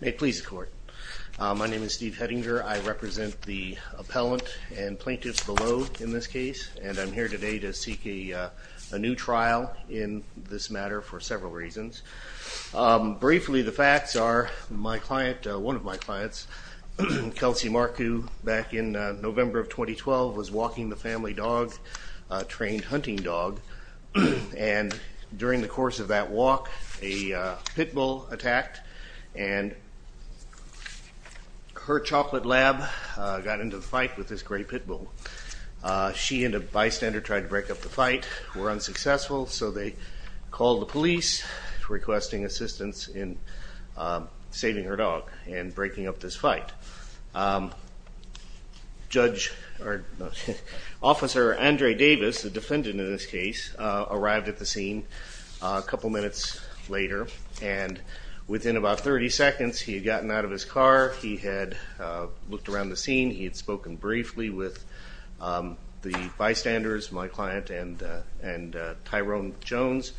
May it please the court. My name is Steve Hedinger. I represent the appellant and plaintiffs below in this case and I'm here today to seek a new trial in this matter for several reasons. Briefly, the facts are my client, one of my clients, Kelsey Marku, back in November of 2012 was walking the family dog, a trained hunting dog, and during the course of that walk a pit bull attacked and her chocolate lab got into the fight with this great pit bull. She and a bystander tried to break up the fight, were unsuccessful, so they called the police requesting assistance in saving her dog and breaking up this fight. Sir Andre Davis, the defendant in this case, arrived at the scene a couple minutes later and within about 30 seconds he had gotten out of his car, he had looked around the scene, he had spoken briefly with the bystanders, my client and and Tyrone Jones,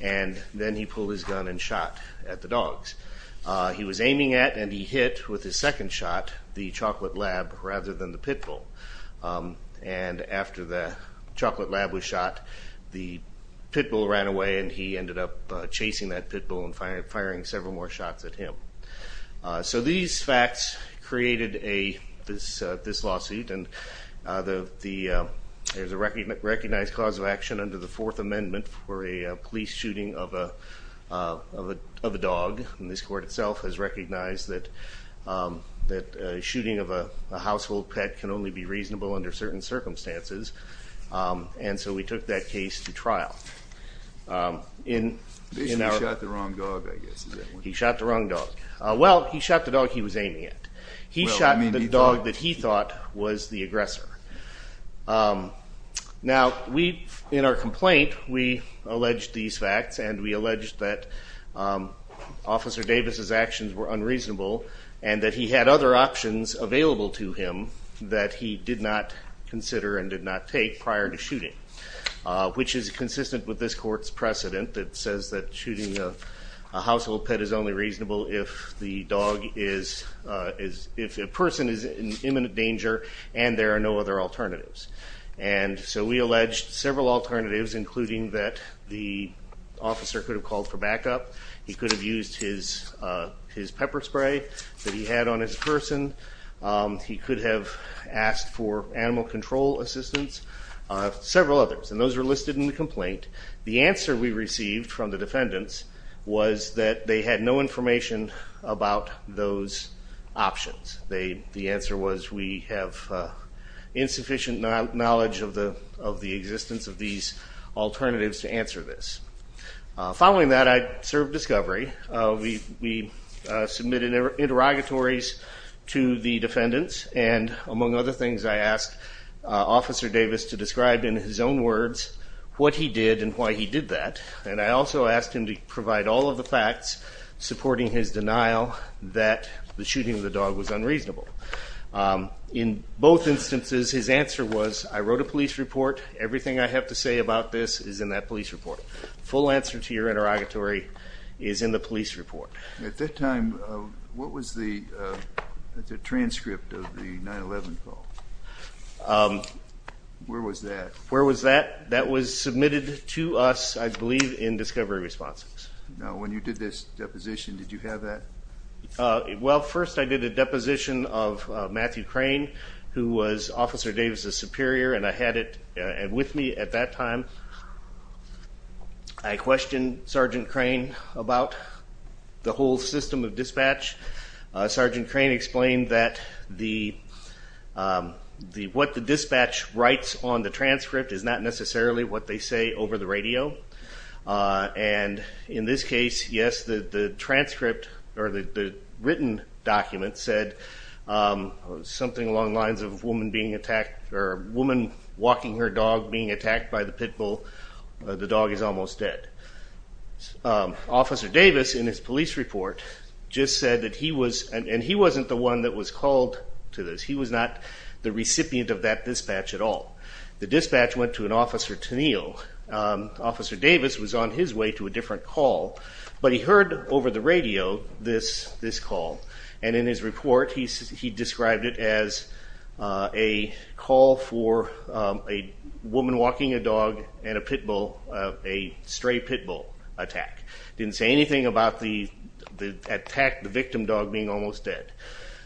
and then he pulled his gun and shot at the dogs. He was aiming at and he hit with his second shot the chocolate lab rather than the chocolate lab was shot. The pit bull ran away and he ended up chasing that pit bull and firing several more shots at him. So these facts created this lawsuit and there's a recognized cause of action under the Fourth Amendment for a police shooting of a dog and this court itself has recognized that a shooting of a household pet can only be reasonable under certain circumstances and so we took that case to trial. He shot the wrong dog? Well he shot the dog he was aiming at. He shot the dog that he thought was the aggressor. Now we in our complaint we alleged these facts and we alleged that Officer Davis's actions were unreasonable and that he had other actions that he did not consider and did not take prior to shooting, which is consistent with this court's precedent that says that shooting a household pet is only reasonable if the dog is, if a person is in imminent danger and there are no other alternatives. And so we alleged several alternatives including that the officer could have called for backup, he could have used his pepper spray that animal control assistance, several others and those were listed in the complaint. The answer we received from the defendants was that they had no information about those options. The answer was we have insufficient knowledge of the existence of these alternatives to answer this. Following that I served discovery. We submitted interrogatories to the police and I asked Officer Davis to describe in his own words what he did and why he did that and I also asked him to provide all of the facts supporting his denial that the shooting of the dog was unreasonable. In both instances his answer was I wrote a police report, everything I have to say about this is in that police report. Full answer to your interrogatory is in the police report. At that time what was the transcript of the 9-11 call? Where was that? Where was that? That was submitted to us I believe in discovery responses. Now when you did this deposition did you have that? Well first I did a deposition of Matthew Crane who was Officer Davis's superior and I had it with me at that time. I questioned Sergeant Crane about the whole system of dispatch. Sergeant Crane explained that what the dispatch writes on the transcript is not necessarily what they say over the radio and in this case yes the transcript or the written document said something along the lines of a woman being attacked or a woman walking her dog being attacked. Officer Davis in his police report just said that he was and he wasn't the one that was called to this. He was not the recipient of that dispatch at all. The dispatch went to an Officer Tennille. Officer Davis was on his way to a different call but he heard over the radio this call and in his report he described it as a call for a woman walking a dog and a pit bull, a stray pit bull attack. He didn't say anything about the attack the victim dog being almost dead.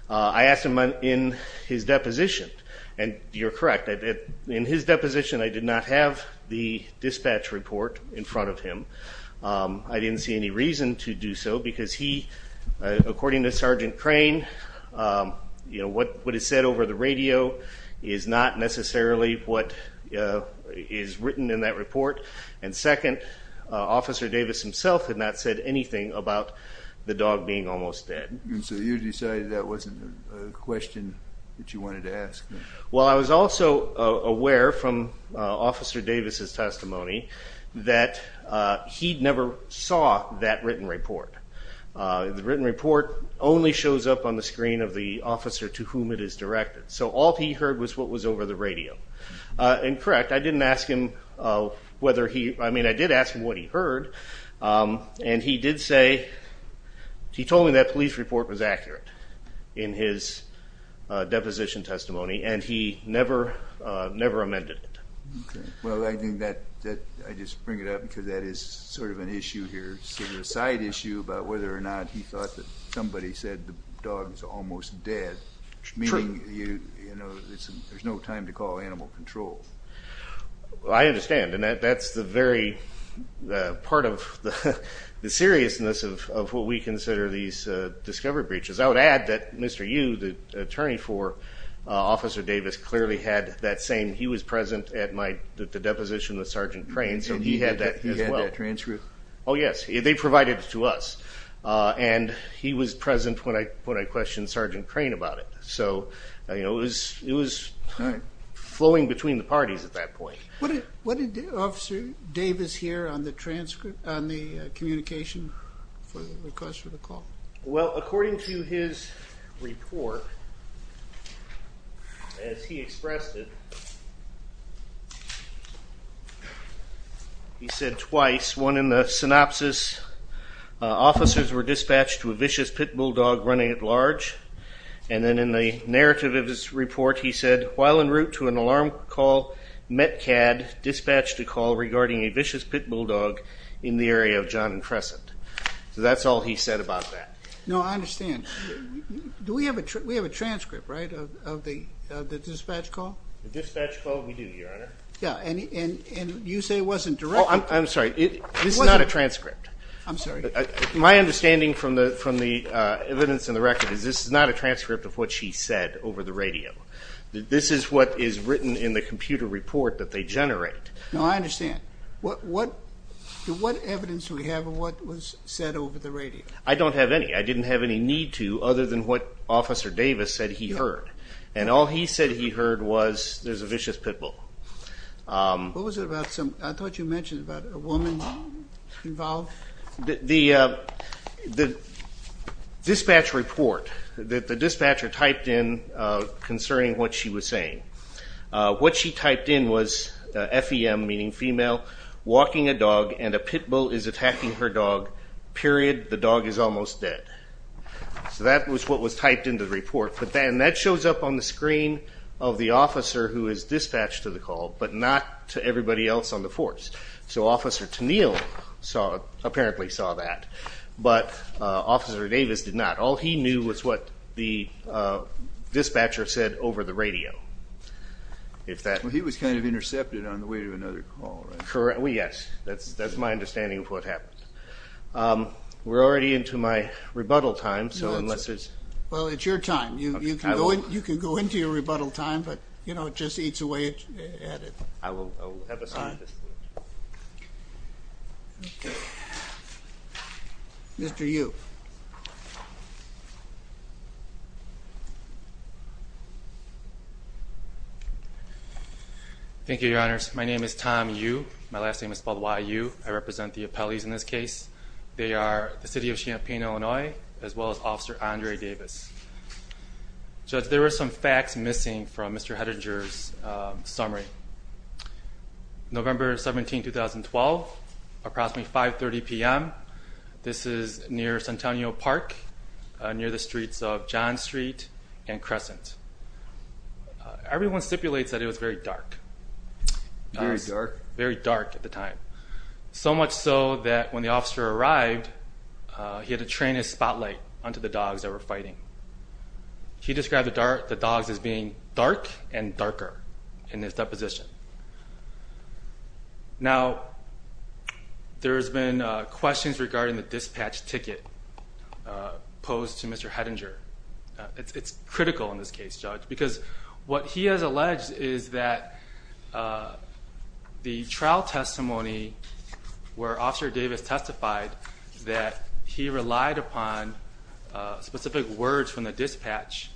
I asked him in his deposition and you're correct that in his deposition I did not have the dispatch report in front of him. I didn't see any reason to do so because he according to Sergeant Crane you know what what is said over the radio is not necessarily what is written in that the dog being almost dead. So you decided that wasn't a question that you wanted to ask? Well I was also aware from Officer Davis' testimony that he'd never saw that written report. The written report only shows up on the screen of the officer to whom it is directed. So all he heard was what was over the radio. And correct I didn't ask him whether he, I mean I did ask what he heard and he did say he told me that police report was accurate in his deposition testimony and he never amended it. Well I think that, I just bring it up because that is sort of an issue here, sort of a side issue about whether or not he thought that somebody said the dog was almost dead, meaning there's no time to call animal control. I understand and that's the very part of the seriousness of what we consider these discovery breaches. I would add that Mr. Yu, the attorney for Officer Davis clearly had that same, he was present at the deposition with Sergeant Crane so he had that as well. He had that transcript? Oh yes, they provided it to us. And he was present when I questioned Sergeant Crane about it. So it was flowing between the parties at that point. What did Officer Davis hear on the communication? Well according to his report, as he expressed it, he said twice, one in the synopsis, officers were dispatched to a vicious pit bulldog running at large and then in the narrative of his report he said, while en route to an alarm call, Metcad dispatched a call regarding a vicious pit bulldog in the area of John and Crescent. So that's all he said about that. No, I understand. Do we have a transcript, right, of the dispatch call? The dispatch call, we do, your honor. Yeah, and you say it wasn't directed? Oh, I'm sorry, this is not a transcript. I'm sorry. My understanding from the evidence in the record is this is not a transcript of what she said over the radio. This is what is written in the computer report that they generate. No, I understand. What evidence do we have of what was said over the radio? I don't have any. I didn't have any need to other than what Officer Davis said he heard. And all he said he heard was there's a vicious pit bull. What was it about, I thought you mentioned about a woman involved? The dispatch report that the dispatcher typed in concerning what she was saying. What she typed in was FEM, meaning female, walking a dog and a pit bull is attacking her dog, period, the dog is almost dead. So that was what was typed in the report. And that shows up on the screen of the officer who is dispatched to the call, but not to everybody else on the force. So Officer Tennille apparently saw that, but Officer Davis did not. All he knew was what the dispatcher said over the radio. Well, he was kind of intercepted on the way to another call, right? Yes, that's my understanding of what happened. We're already into my rebuttal time, so unless it's... Well, it's your time. You can go into your rebuttal time, but it just eats away at it. I will have a second. Mr. Yu. Thank you, Your Honors. My name is Tom Yu. My last name is spelled Y-U. I represent the appellees in this case. They are the City of Champaign, Illinois, as well as Officer Andre Davis. Judge, there were some facts missing from Mr. Hettinger's summary. November 17, 2012, approximately 5.30 p.m. This is near Centennial Park, near the streets of John Street and Crescent. Everyone stipulates that it was very dark. Very dark? Very dark at the time. So much so that when the officer arrived, he had to train his spotlight onto the dogs that were fighting. He described the dogs as being dark and darker in his deposition. Now, there's been questions regarding the dispatch ticket posed to Mr. Hettinger. It's critical in this case, Judge, because what he has alleged is that the trial testimony where Officer Davis testified that he relied upon specific words from the dispatch,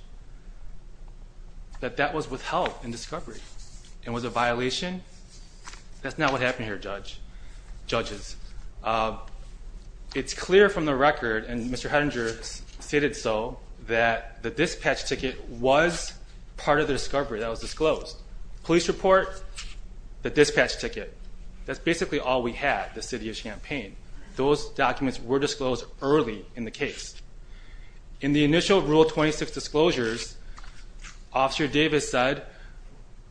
that that was withheld in discovery and was a violation. That's not what happened here, Judges. It's clear from the record, and Mr. Hettinger stated so, that the dispatch ticket was part of the discovery that was disclosed. Police report, the dispatch ticket. That's basically all we had, the city of Champaign. Those documents were disclosed early in the case. In the initial Rule 26 disclosures, Officer Davis said,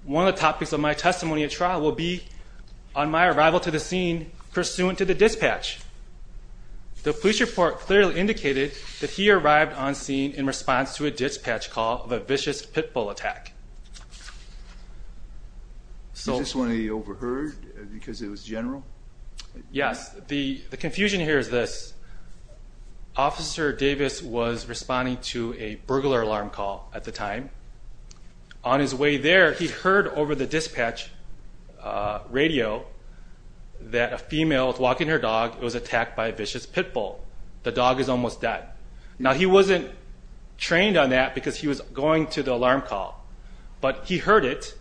one of the topics of my testimony at trial will be on my arrival to the scene pursuant to the dispatch. The police report clearly indicated that he arrived on scene in response to a dispatch call of a vicious pit bull attack. Is this one of the overheard because it was general? Yes. The confusion here is this. Officer Davis was responding to a burglar alarm call at the time. On his way there, he heard over the dispatch radio that a female was walking her dog was attacked by a vicious pit bull. The dog is almost dead. Now, he wasn't trained on that because he was going to the alarm call. But he heard it,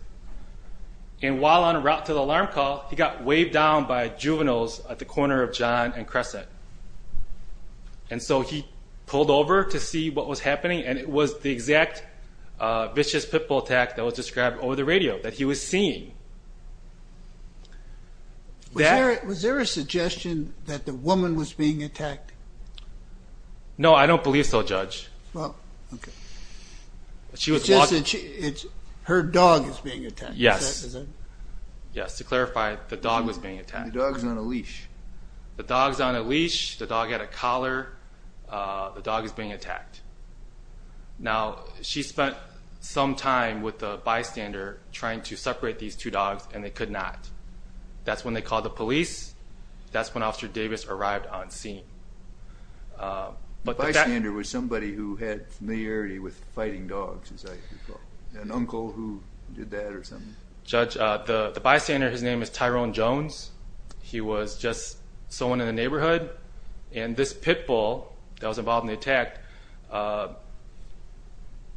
and while on route to the alarm call, he got waved down by juveniles at the corner of John and Crescent. And so he pulled over to see what was happening, and it was the exact vicious pit bull attack that was described over the radio that he was seeing. Was there a suggestion that the woman was being attacked? No, I don't believe so, Judge. Her dog is being attacked? Yes. To clarify, the dog was being attacked. The dog is on a leash. The dog is on a leash. The dog had a collar. The dog is being attacked. Now, she spent some time with the bystander trying to separate these two dogs, and they could not. That's when they called the police. That's when Officer Davis arrived on scene. The bystander was somebody who had familiarity with fighting dogs, as I recall. An uncle who did that or something? The bystander, his name is Tyrone Jones. He was just someone in the neighborhood, and this pit bull that was involved in the attack,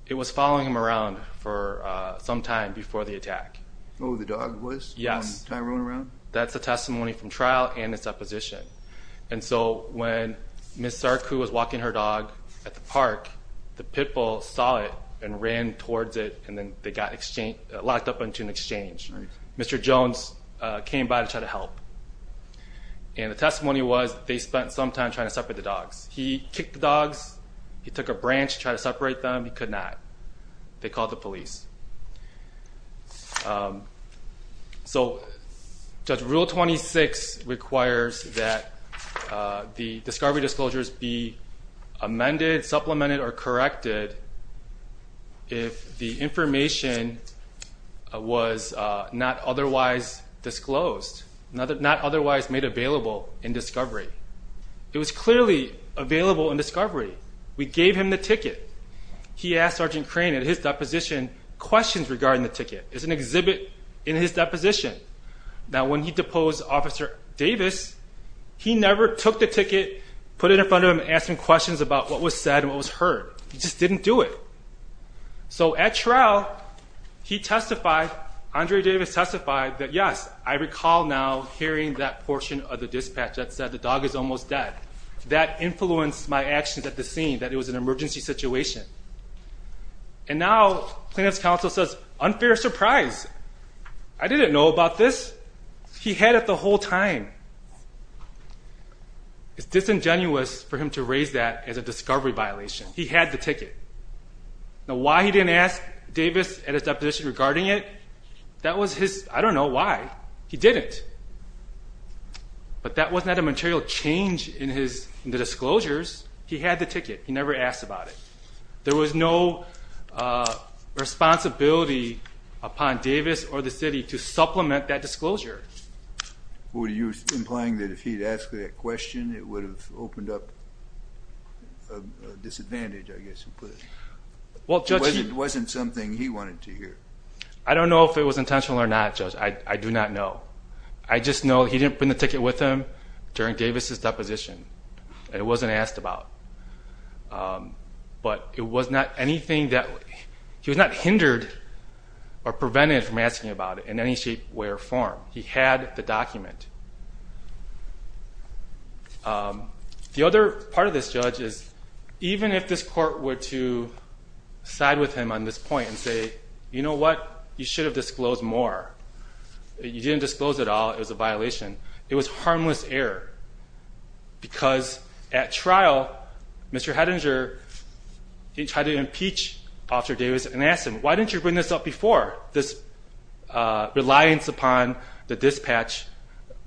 it was following him around for some time before the attack. Oh, the dog was following Tyrone around? Yes. That's the testimony from trial and a supposition. And so when Ms. Sarku was walking her dog at the park, the pit bull saw it and ran towards it, and then they got locked up into an exchange. Mr. Jones came by to try to help, and the testimony was they spent some time trying to separate the dogs. He kicked the dogs. He took a branch, tried to separate them. He could not. They called the police. So Judge Rule 26 requires that the discovery disclosures be amended, supplemented, or corrected if the information was not otherwise disclosed, not otherwise made available in discovery. It was clearly available in discovery. We gave him the ticket. He asked Sergeant Crane at his deposition questions regarding the ticket. It's an exhibit in his deposition. Now, when he deposed Officer Davis, he never took the ticket, put it in front of him, and asked him questions about what was said and what was heard. He just didn't do it. So at trial, he testified, Andre Davis testified, that yes, I recall now hearing that portion of the dispatch that said the dog is almost dead. That influenced my actions at the scene, that it was an emergency situation. And now, plaintiff's counsel says, unfair surprise. I didn't know about this. He had it the whole time. It's disingenuous for him to raise that as a discovery violation. He had the ticket. Now, why he didn't ask Davis at his deposition regarding it, that was his, I don't know why, he didn't. But that wasn't a material change in the disclosures. He had the ticket. He never asked about it. There was no responsibility upon Davis or the city to supplement that disclosure. What were you implying, that if he had asked that question, it would have opened up a disadvantage, I guess you could put it. It wasn't something he wanted to hear. I don't know if it was intentional or not, Judge. I do not know. I just know he didn't bring the ticket with him during Davis' deposition. It wasn't asked about. But it was not anything that, he was not hindered or prevented from asking about it in any shape, way, or form. He had the document. The other part of this, Judge, is even if this court were to side with him on this point and say, you know what, you should have disclosed more, you didn't disclose it all, it was a violation, it was harmless error. Because at trial, Mr. Hettinger tried to impeach Officer Davis and asked him, why didn't you bring this up before, this reliance upon the dispatch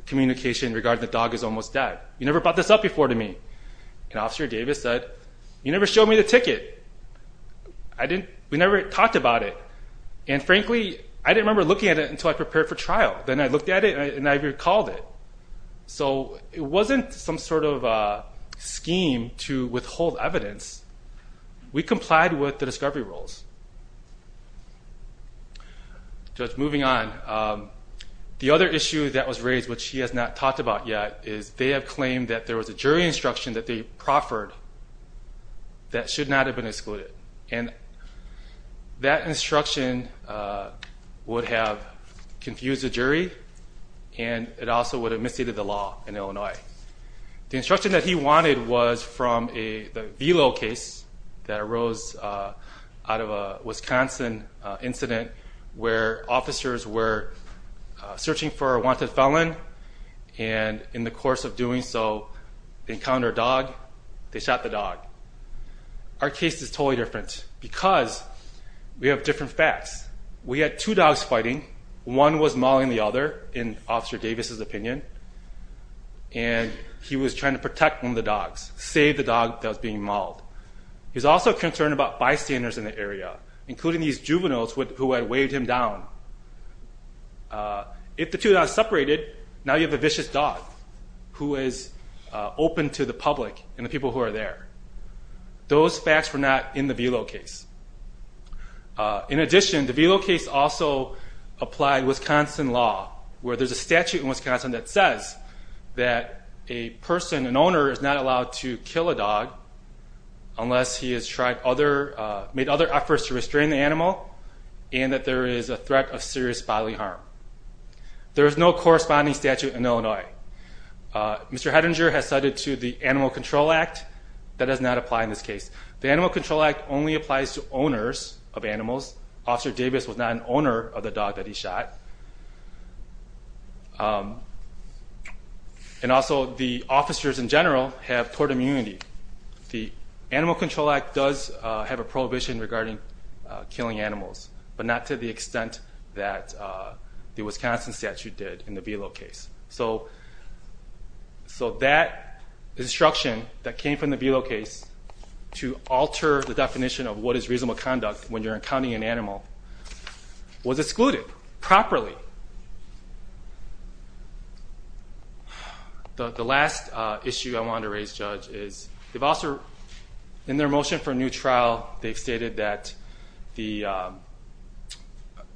communication regarding the dog is almost dead. You never brought this up before to me. And Officer Davis said, you never showed me the ticket. We never talked about it. And frankly, I didn't remember looking at it until I prepared for trial. Then I looked at it and I recalled it. So it wasn't some sort of scheme to withhold evidence. We complied with the discovery rules. Judge, moving on. The other issue that was raised, which he has not talked about yet, is they have claimed that there was a jury instruction that they proffered that should not have been excluded. And that instruction would have confused the jury and it also would have misstated the law in Illinois. The instruction that he wanted was from the Vilo case that arose out of a Wisconsin incident where officers were searching for a wanted felon and in the course of doing so, they encountered a dog, they shot the dog. Our case is totally different because we have different facts. We had two dogs fighting. One was mauling the other, in Officer Davis's opinion, and he was trying to protect one of the dogs, save the dog that was being mauled. He was also concerned about bystanders in the area, including these juveniles who had weighed him down. If the two dogs separated, now you have a vicious dog who is open to the public and the people who are there. Those facts were not in the Vilo case. In addition, the Vilo case also applied Wisconsin law, where there's a statute in Wisconsin that says that a person, an owner, is not allowed to kill a dog unless he has made other efforts to restrain the animal and that there is a threat of serious bodily harm. There is no corresponding statute in Illinois. Mr. Hettinger has cited the Animal Control Act. That does not apply in this case. The Animal Control Act only applies to owners of animals. Officer Davis was not an owner of the dog that he shot. And also, the officers in general have tort immunity. The Animal Control Act does have a prohibition regarding killing animals, but not to the extent that the Wisconsin statute did in the Vilo case. So that instruction that came from the Vilo case to alter the definition of what is reasonable conduct when you're encountering an animal was excluded properly. The last issue I want to raise, Judge, is in their motion for a new trial, they've stated that the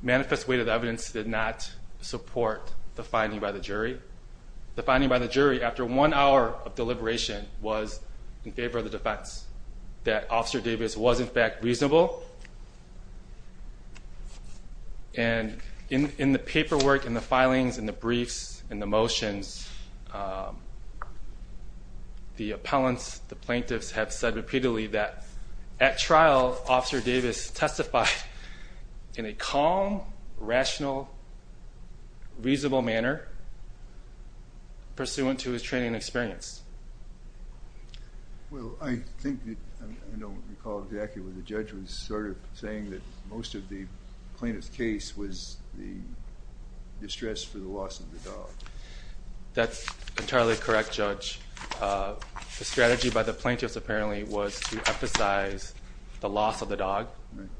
manifest weight of the evidence did not support the finding by the jury. The finding by the jury after one hour of deliberation was in favor of the defense, that Officer Davis was in fact reasonable. And in the paperwork, in the filings, in the briefs, in the motions, the appellants, the plaintiffs have said repeatedly that at trial, Officer Davis testified in a calm, rational, reasonable manner. Pursuant to his training and experience. Well, I think, I don't recall exactly, but the judge was sort of saying that most of the plaintiff's case was the distress for the loss of the dog. That's entirely correct, Judge. The strategy by the plaintiffs apparently was to emphasize the loss of the dog,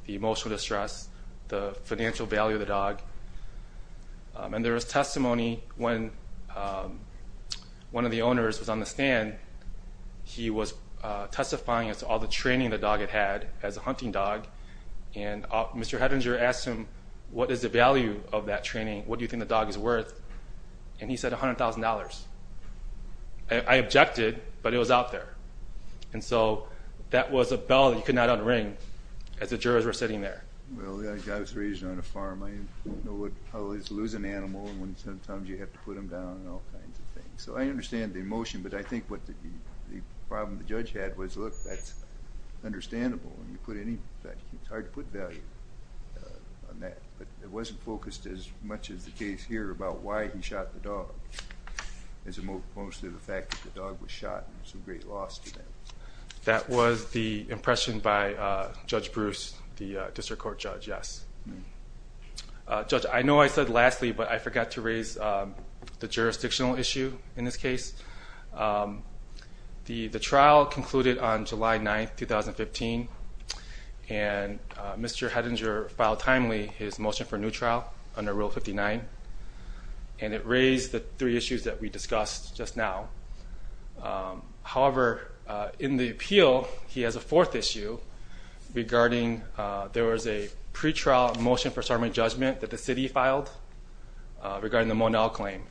the emotional distress, the financial value of the dog. And there was testimony when one of the owners was on the stand, he was testifying as to all the training the dog had had as a hunting dog. And Mr. Hettinger asked him, what is the value of that training? What do you think the dog is worth? And he said $100,000. I objected, but it was out there. And so that was a bell that you could not unring as the jurors were sitting there. Well, the guy was raised on a farm. I don't know what it's like to lose an animal when sometimes you have to put them down and all kinds of things. So I understand the emotion, but I think what the problem the judge had was, look, that's understandable. It's hard to put value on that. But it wasn't focused as much as the case here about why he shot the dog. It was mostly the fact that the dog was shot. It was a great loss to them. That was the impression by Judge Bruce, the district court judge, yes. Judge, I know I said lastly, but I forgot to raise the jurisdictional issue in this case. The trial concluded on July 9, 2015, and Mr. Hettinger filed timely his motion for a new trial under Rule 59. And it raised the three issues that we discussed just now. However, in the appeal, he has a fourth issue regarding there was a pre-trial motion for summary judgment that the city filed regarding the Monell claim.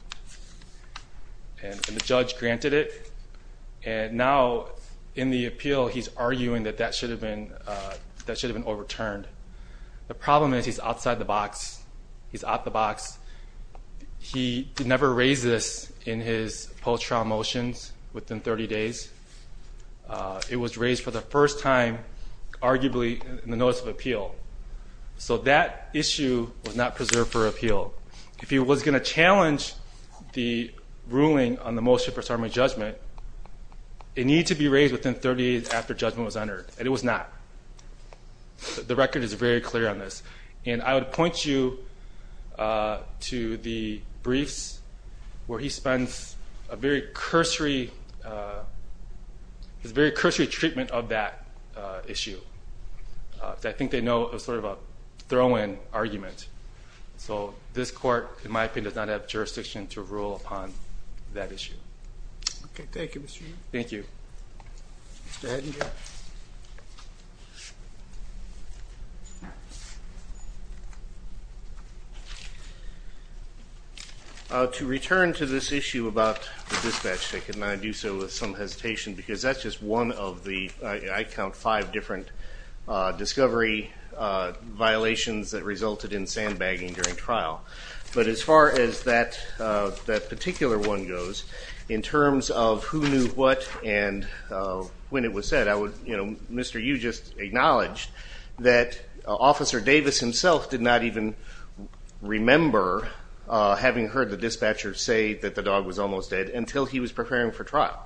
And the judge granted it. And now in the appeal, he's arguing that that should have been overturned. The problem is he's outside the box. He's out the box. He never raised this in his post-trial motions within 30 days. It was raised for the first time, arguably, in the notice of appeal. So that issue was not preserved for appeal. If he was going to challenge the ruling on the motion for summary judgment, it needed to be raised within 30 days after judgment was entered, and it was not. The record is very clear on this. And I would point you to the briefs where he spends a very cursory treatment of that issue. I think they know it was sort of a throw-in argument. So this court, in my opinion, does not have jurisdiction to rule upon that issue. Okay, thank you, Mr. Yu. Thank you. Mr. Hettinger. Thank you. To return to this issue about the dispatch ticket, and I do so with some hesitation because that's just one of the, I count, five different discovery violations that resulted in sandbagging during trial. But as far as that particular one goes, in terms of who knew what and when it was said, Mr. Yu just acknowledged that Officer Davis himself did not even remember, having heard the dispatcher say that the dog was almost dead, until he was preparing for trial.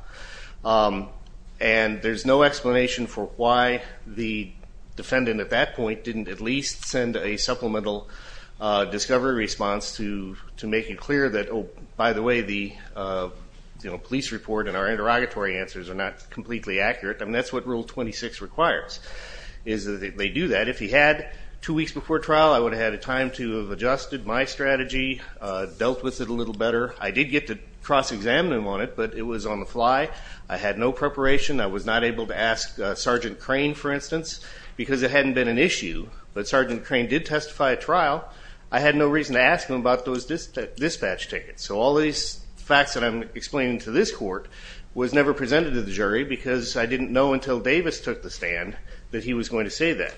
And there's no explanation for why the defendant at that point didn't at least send a supplemental discovery response to make it clear that, oh, by the way, the police report and our interrogatory answers are not completely accurate. I mean, that's what Rule 26 requires, is that they do that. If he had two weeks before trial, I would have had a time to have adjusted my strategy, dealt with it a little better. I did get to cross-examine him on it, but it was on the fly. I had no preparation. I was not able to ask Sergeant Crane, for instance, because it hadn't been an issue. But Sergeant Crane did testify at trial. I had no reason to ask him about those dispatch tickets. So all these facts that I'm explaining to this court was never presented to the jury because I didn't know until Davis took the stand that he was going to say that.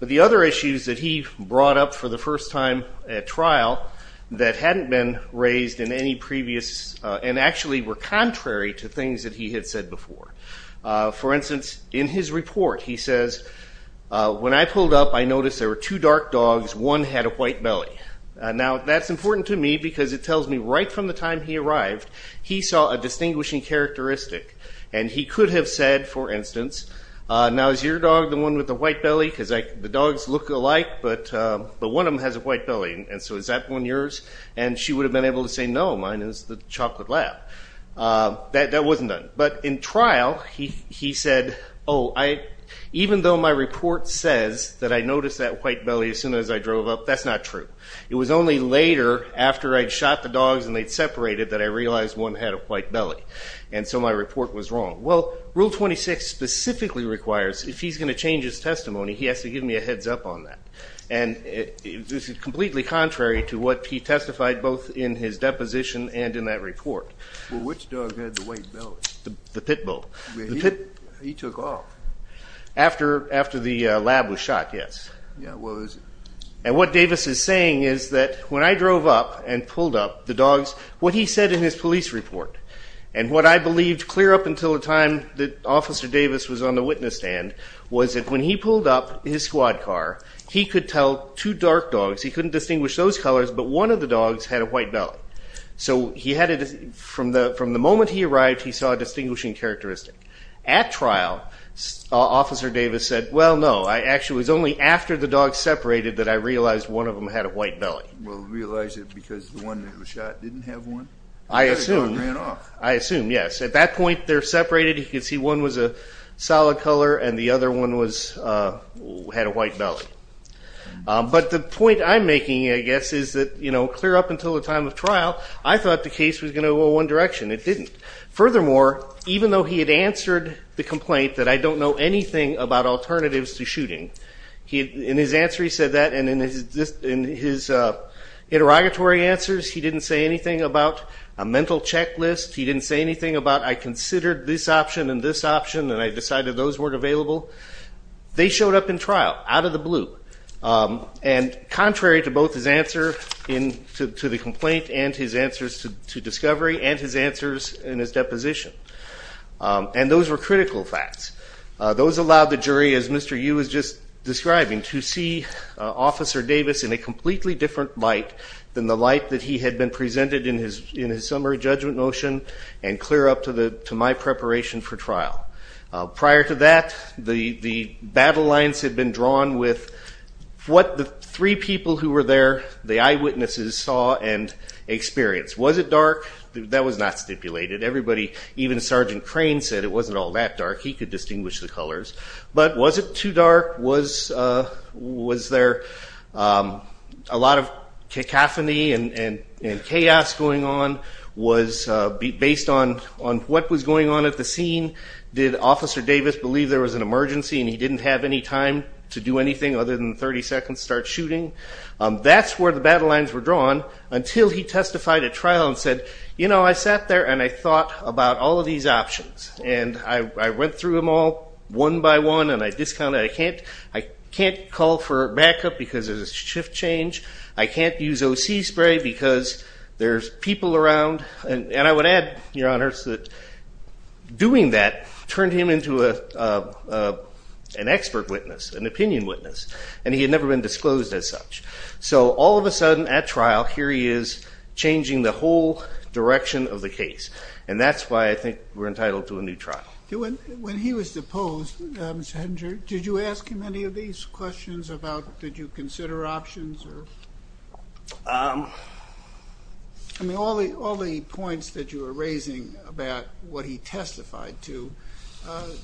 But the other issues that he brought up for the first time at trial that hadn't been raised in any previous and actually were contrary to things that he had said before. For instance, in his report, he says, when I pulled up, I noticed there were two dark dogs. One had a white belly. Now, that's important to me because it tells me right from the time he arrived, he saw a distinguishing characteristic. And he could have said, for instance, now is your dog the one with the white belly? Because the dogs look alike, but one of them has a white belly. And so is that one yours? And she would have been able to say, no, mine is the chocolate lab. That wasn't done. But in trial, he said, oh, even though my report says that I noticed that white belly as soon as I drove up, that's not true. It was only later, after I'd shot the dogs and they'd separated, that I realized one had a white belly. And so my report was wrong. Well, Rule 26 specifically requires if he's going to change his testimony, he has to give me a heads-up on that. And this is completely contrary to what he testified both in his deposition and in that report. Well, which dog had the white belly? The pit bull. He took off. After the lab was shot, yes. Yeah, well, it was. And what Davis is saying is that when I drove up and pulled up the dogs, what he said in his police report, and what I believed clear up until the time that Officer Davis was on the witness stand, was that when he pulled up his squad car, he could tell two dark dogs. He couldn't distinguish those colors, but one of the dogs had a white belly. So from the moment he arrived, he saw a distinguishing characteristic. At trial, Officer Davis said, well, no, it was only after the dogs separated that I realized one of them had a white belly. Well, he realized it because the one that was shot didn't have one? I assume, yes. At that point, they're separated. He could see one was a solid color and the other one had a white belly. But the point I'm making, I guess, is that clear up until the time of trial, I thought the case was going to go one direction. It didn't. Furthermore, even though he had answered the complaint that I don't know anything about alternatives to shooting, in his answer he said that, and in his interrogatory answers he didn't say anything about a mental checklist. He didn't say anything about I considered this option and this option, and I decided those weren't available. They showed up in trial out of the blue. And contrary to both his answer to the complaint and his answers to discovery and his answers in his deposition, and those were critical facts, those allowed the jury, as Mr. Yu was just describing, to see Officer Davis in a completely different light than the light that he had been presented in his summary judgment motion and clear up to my preparation for trial. Prior to that, the battle lines had been drawn with what the three people who were there, the eyewitnesses saw and experienced. Was it dark? That was not stipulated. Everybody, even Sergeant Crane, said it wasn't all that dark. He could distinguish the colors. But was it too dark? Was there a lot of cacophony and chaos going on based on what was going on at the scene? Did Officer Davis believe there was an emergency and he didn't have any time to do anything other than 30 seconds, start shooting? That's where the battle lines were drawn until he testified at trial and said, you know, I sat there and I thought about all of these options, and I went through them all one by one and I discounted. I can't call for backup because there's a shift change. I can't use OC spray because there's people around. And I would add, Your Honors, that doing that turned him into an expert witness, an opinion witness, and he had never been disclosed as such. So all of a sudden at trial, here he is changing the whole direction of the case, and that's why I think we're entitled to a new trial. When he was deposed, Mr. Hedinger, did you ask him any of these questions about did you consider options? I mean, all the points that you were raising about what he testified to,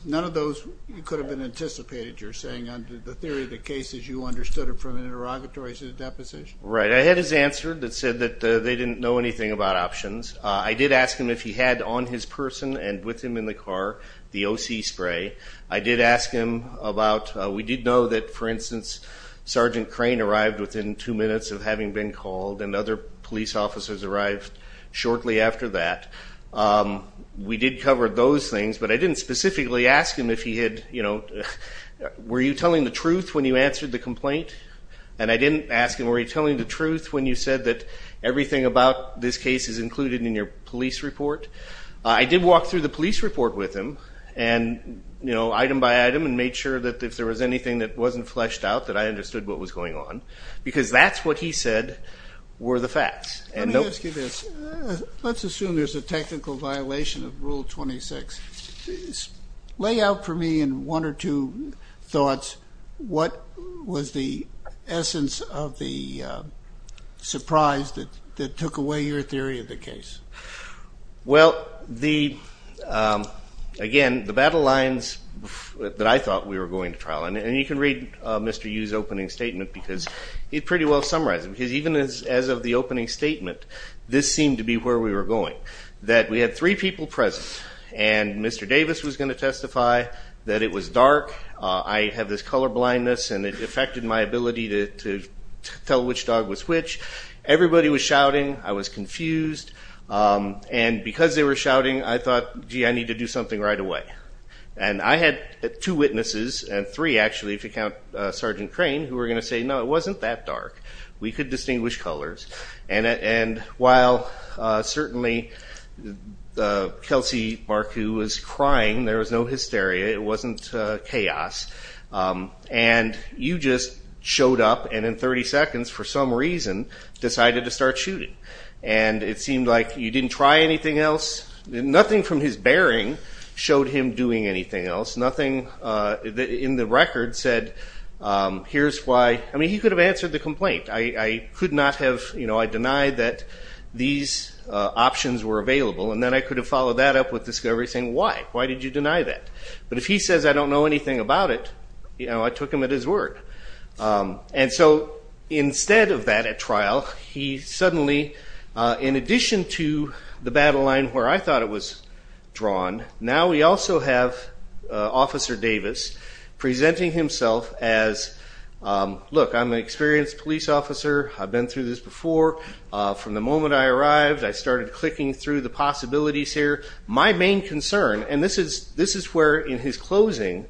none of those could have been anticipated, you're saying, under the theory of the cases you understood from the interrogatories of the deposition? Right. I had his answer that said that they didn't know anything about options. I did ask him if he had on his person and with him in the car the OC spray. I did ask him about, we did know that, for instance, Sergeant Crane arrived within two minutes of having been called and other police officers arrived shortly after that. We did cover those things, but I didn't specifically ask him if he had, you know, were you telling the truth when you answered the complaint? And I didn't ask him, were you telling the truth when you said that everything about this case is included in your police report? I did walk through the police report with him and, you know, item by item and made sure that if there was anything that wasn't fleshed out that I understood what was going on because that's what he said were the facts. Let me ask you this. Let's assume there's a technical violation of Rule 26. Lay out for me in one or two thoughts what was the essence of the surprise that took away your theory of the case. Well, again, the battle lines that I thought we were going to trial, and you can read Mr. Yu's opening statement because he pretty well summarized it because even as of the opening statement, this seemed to be where we were going, that we had three people present and Mr. Davis was going to testify that it was dark. I have this color blindness and it affected my ability to tell which dog was which. Everybody was shouting. I was confused. And because they were shouting, I thought, gee, I need to do something right away. And I had two witnesses, and three actually if you count Sergeant Crane, who were going to say, no, it wasn't that dark. We could distinguish colors. And while certainly Kelsey Barku was crying, there was no hysteria. It wasn't chaos. And you just showed up and in 30 seconds, for some reason, decided to start shooting. And it seemed like you didn't try anything else. Nothing from his bearing showed him doing anything else. Nothing in the record said, here's why. I mean, he could have answered the complaint. I could not have. I denied that these options were available, and then I could have followed that up with discovery saying, why? Why did you deny that? But if he says I don't know anything about it, I took him at his word. And so instead of that at trial, he suddenly, in addition to the battle line where I thought it was drawn, now we also have Officer Davis presenting himself as, look, I'm an experienced police officer. I've been through this before. From the moment I arrived, I started clicking through the possibilities here. My main concern, and this is where, in his closing,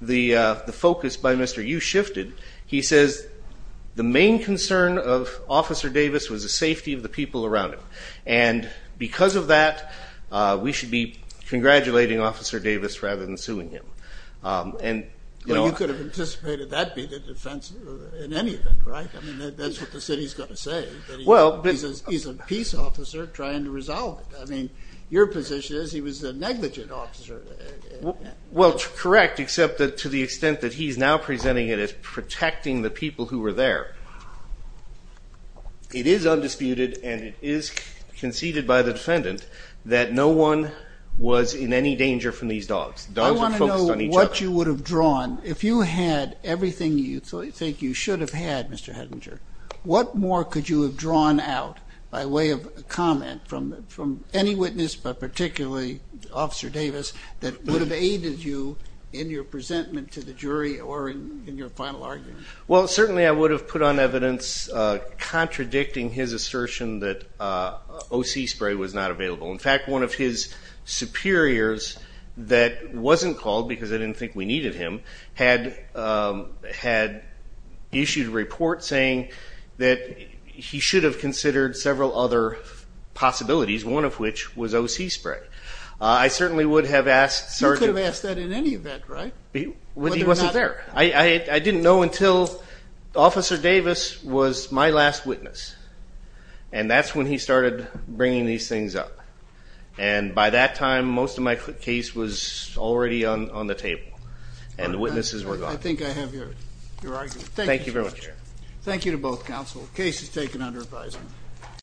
the focus by Mr. Yu shifted, he says the main concern of Officer Davis was the safety of the people around him. And because of that, we should be congratulating Officer Davis rather than suing him. Well, you could have anticipated that would be the defense in any event, right? I mean, that's what the city is going to say. He's a peace officer trying to resolve it. I mean, your position is he was a negligent officer. Well, correct, except to the extent that he's now presenting it as protecting the people who were there. It is undisputed and it is conceded by the defendant that no one was in any danger from these dogs. I want to know what you would have drawn. If you had everything you think you should have had, Mr. Hettinger, what more could you have drawn out by way of comment from any witness, but particularly Officer Davis, that would have aided you in your presentment to the jury or in your final argument? Well, certainly I would have put on evidence contradicting his assertion that O.C. spray was not available. In fact, one of his superiors that wasn't called because they didn't think we needed him had issued a report saying that he should have considered several other possibilities, one of which was O.C. spray. I certainly would have asked Sergeant. You could have asked that in any event, right? He wasn't there. I didn't know until Officer Davis was my last witness, and that's when he started bringing these things up. And by that time, most of my case was already on the table, and the witnesses were gone. I think I have your argument. Thank you very much. Thank you to both counsel. Case is taken under advisement.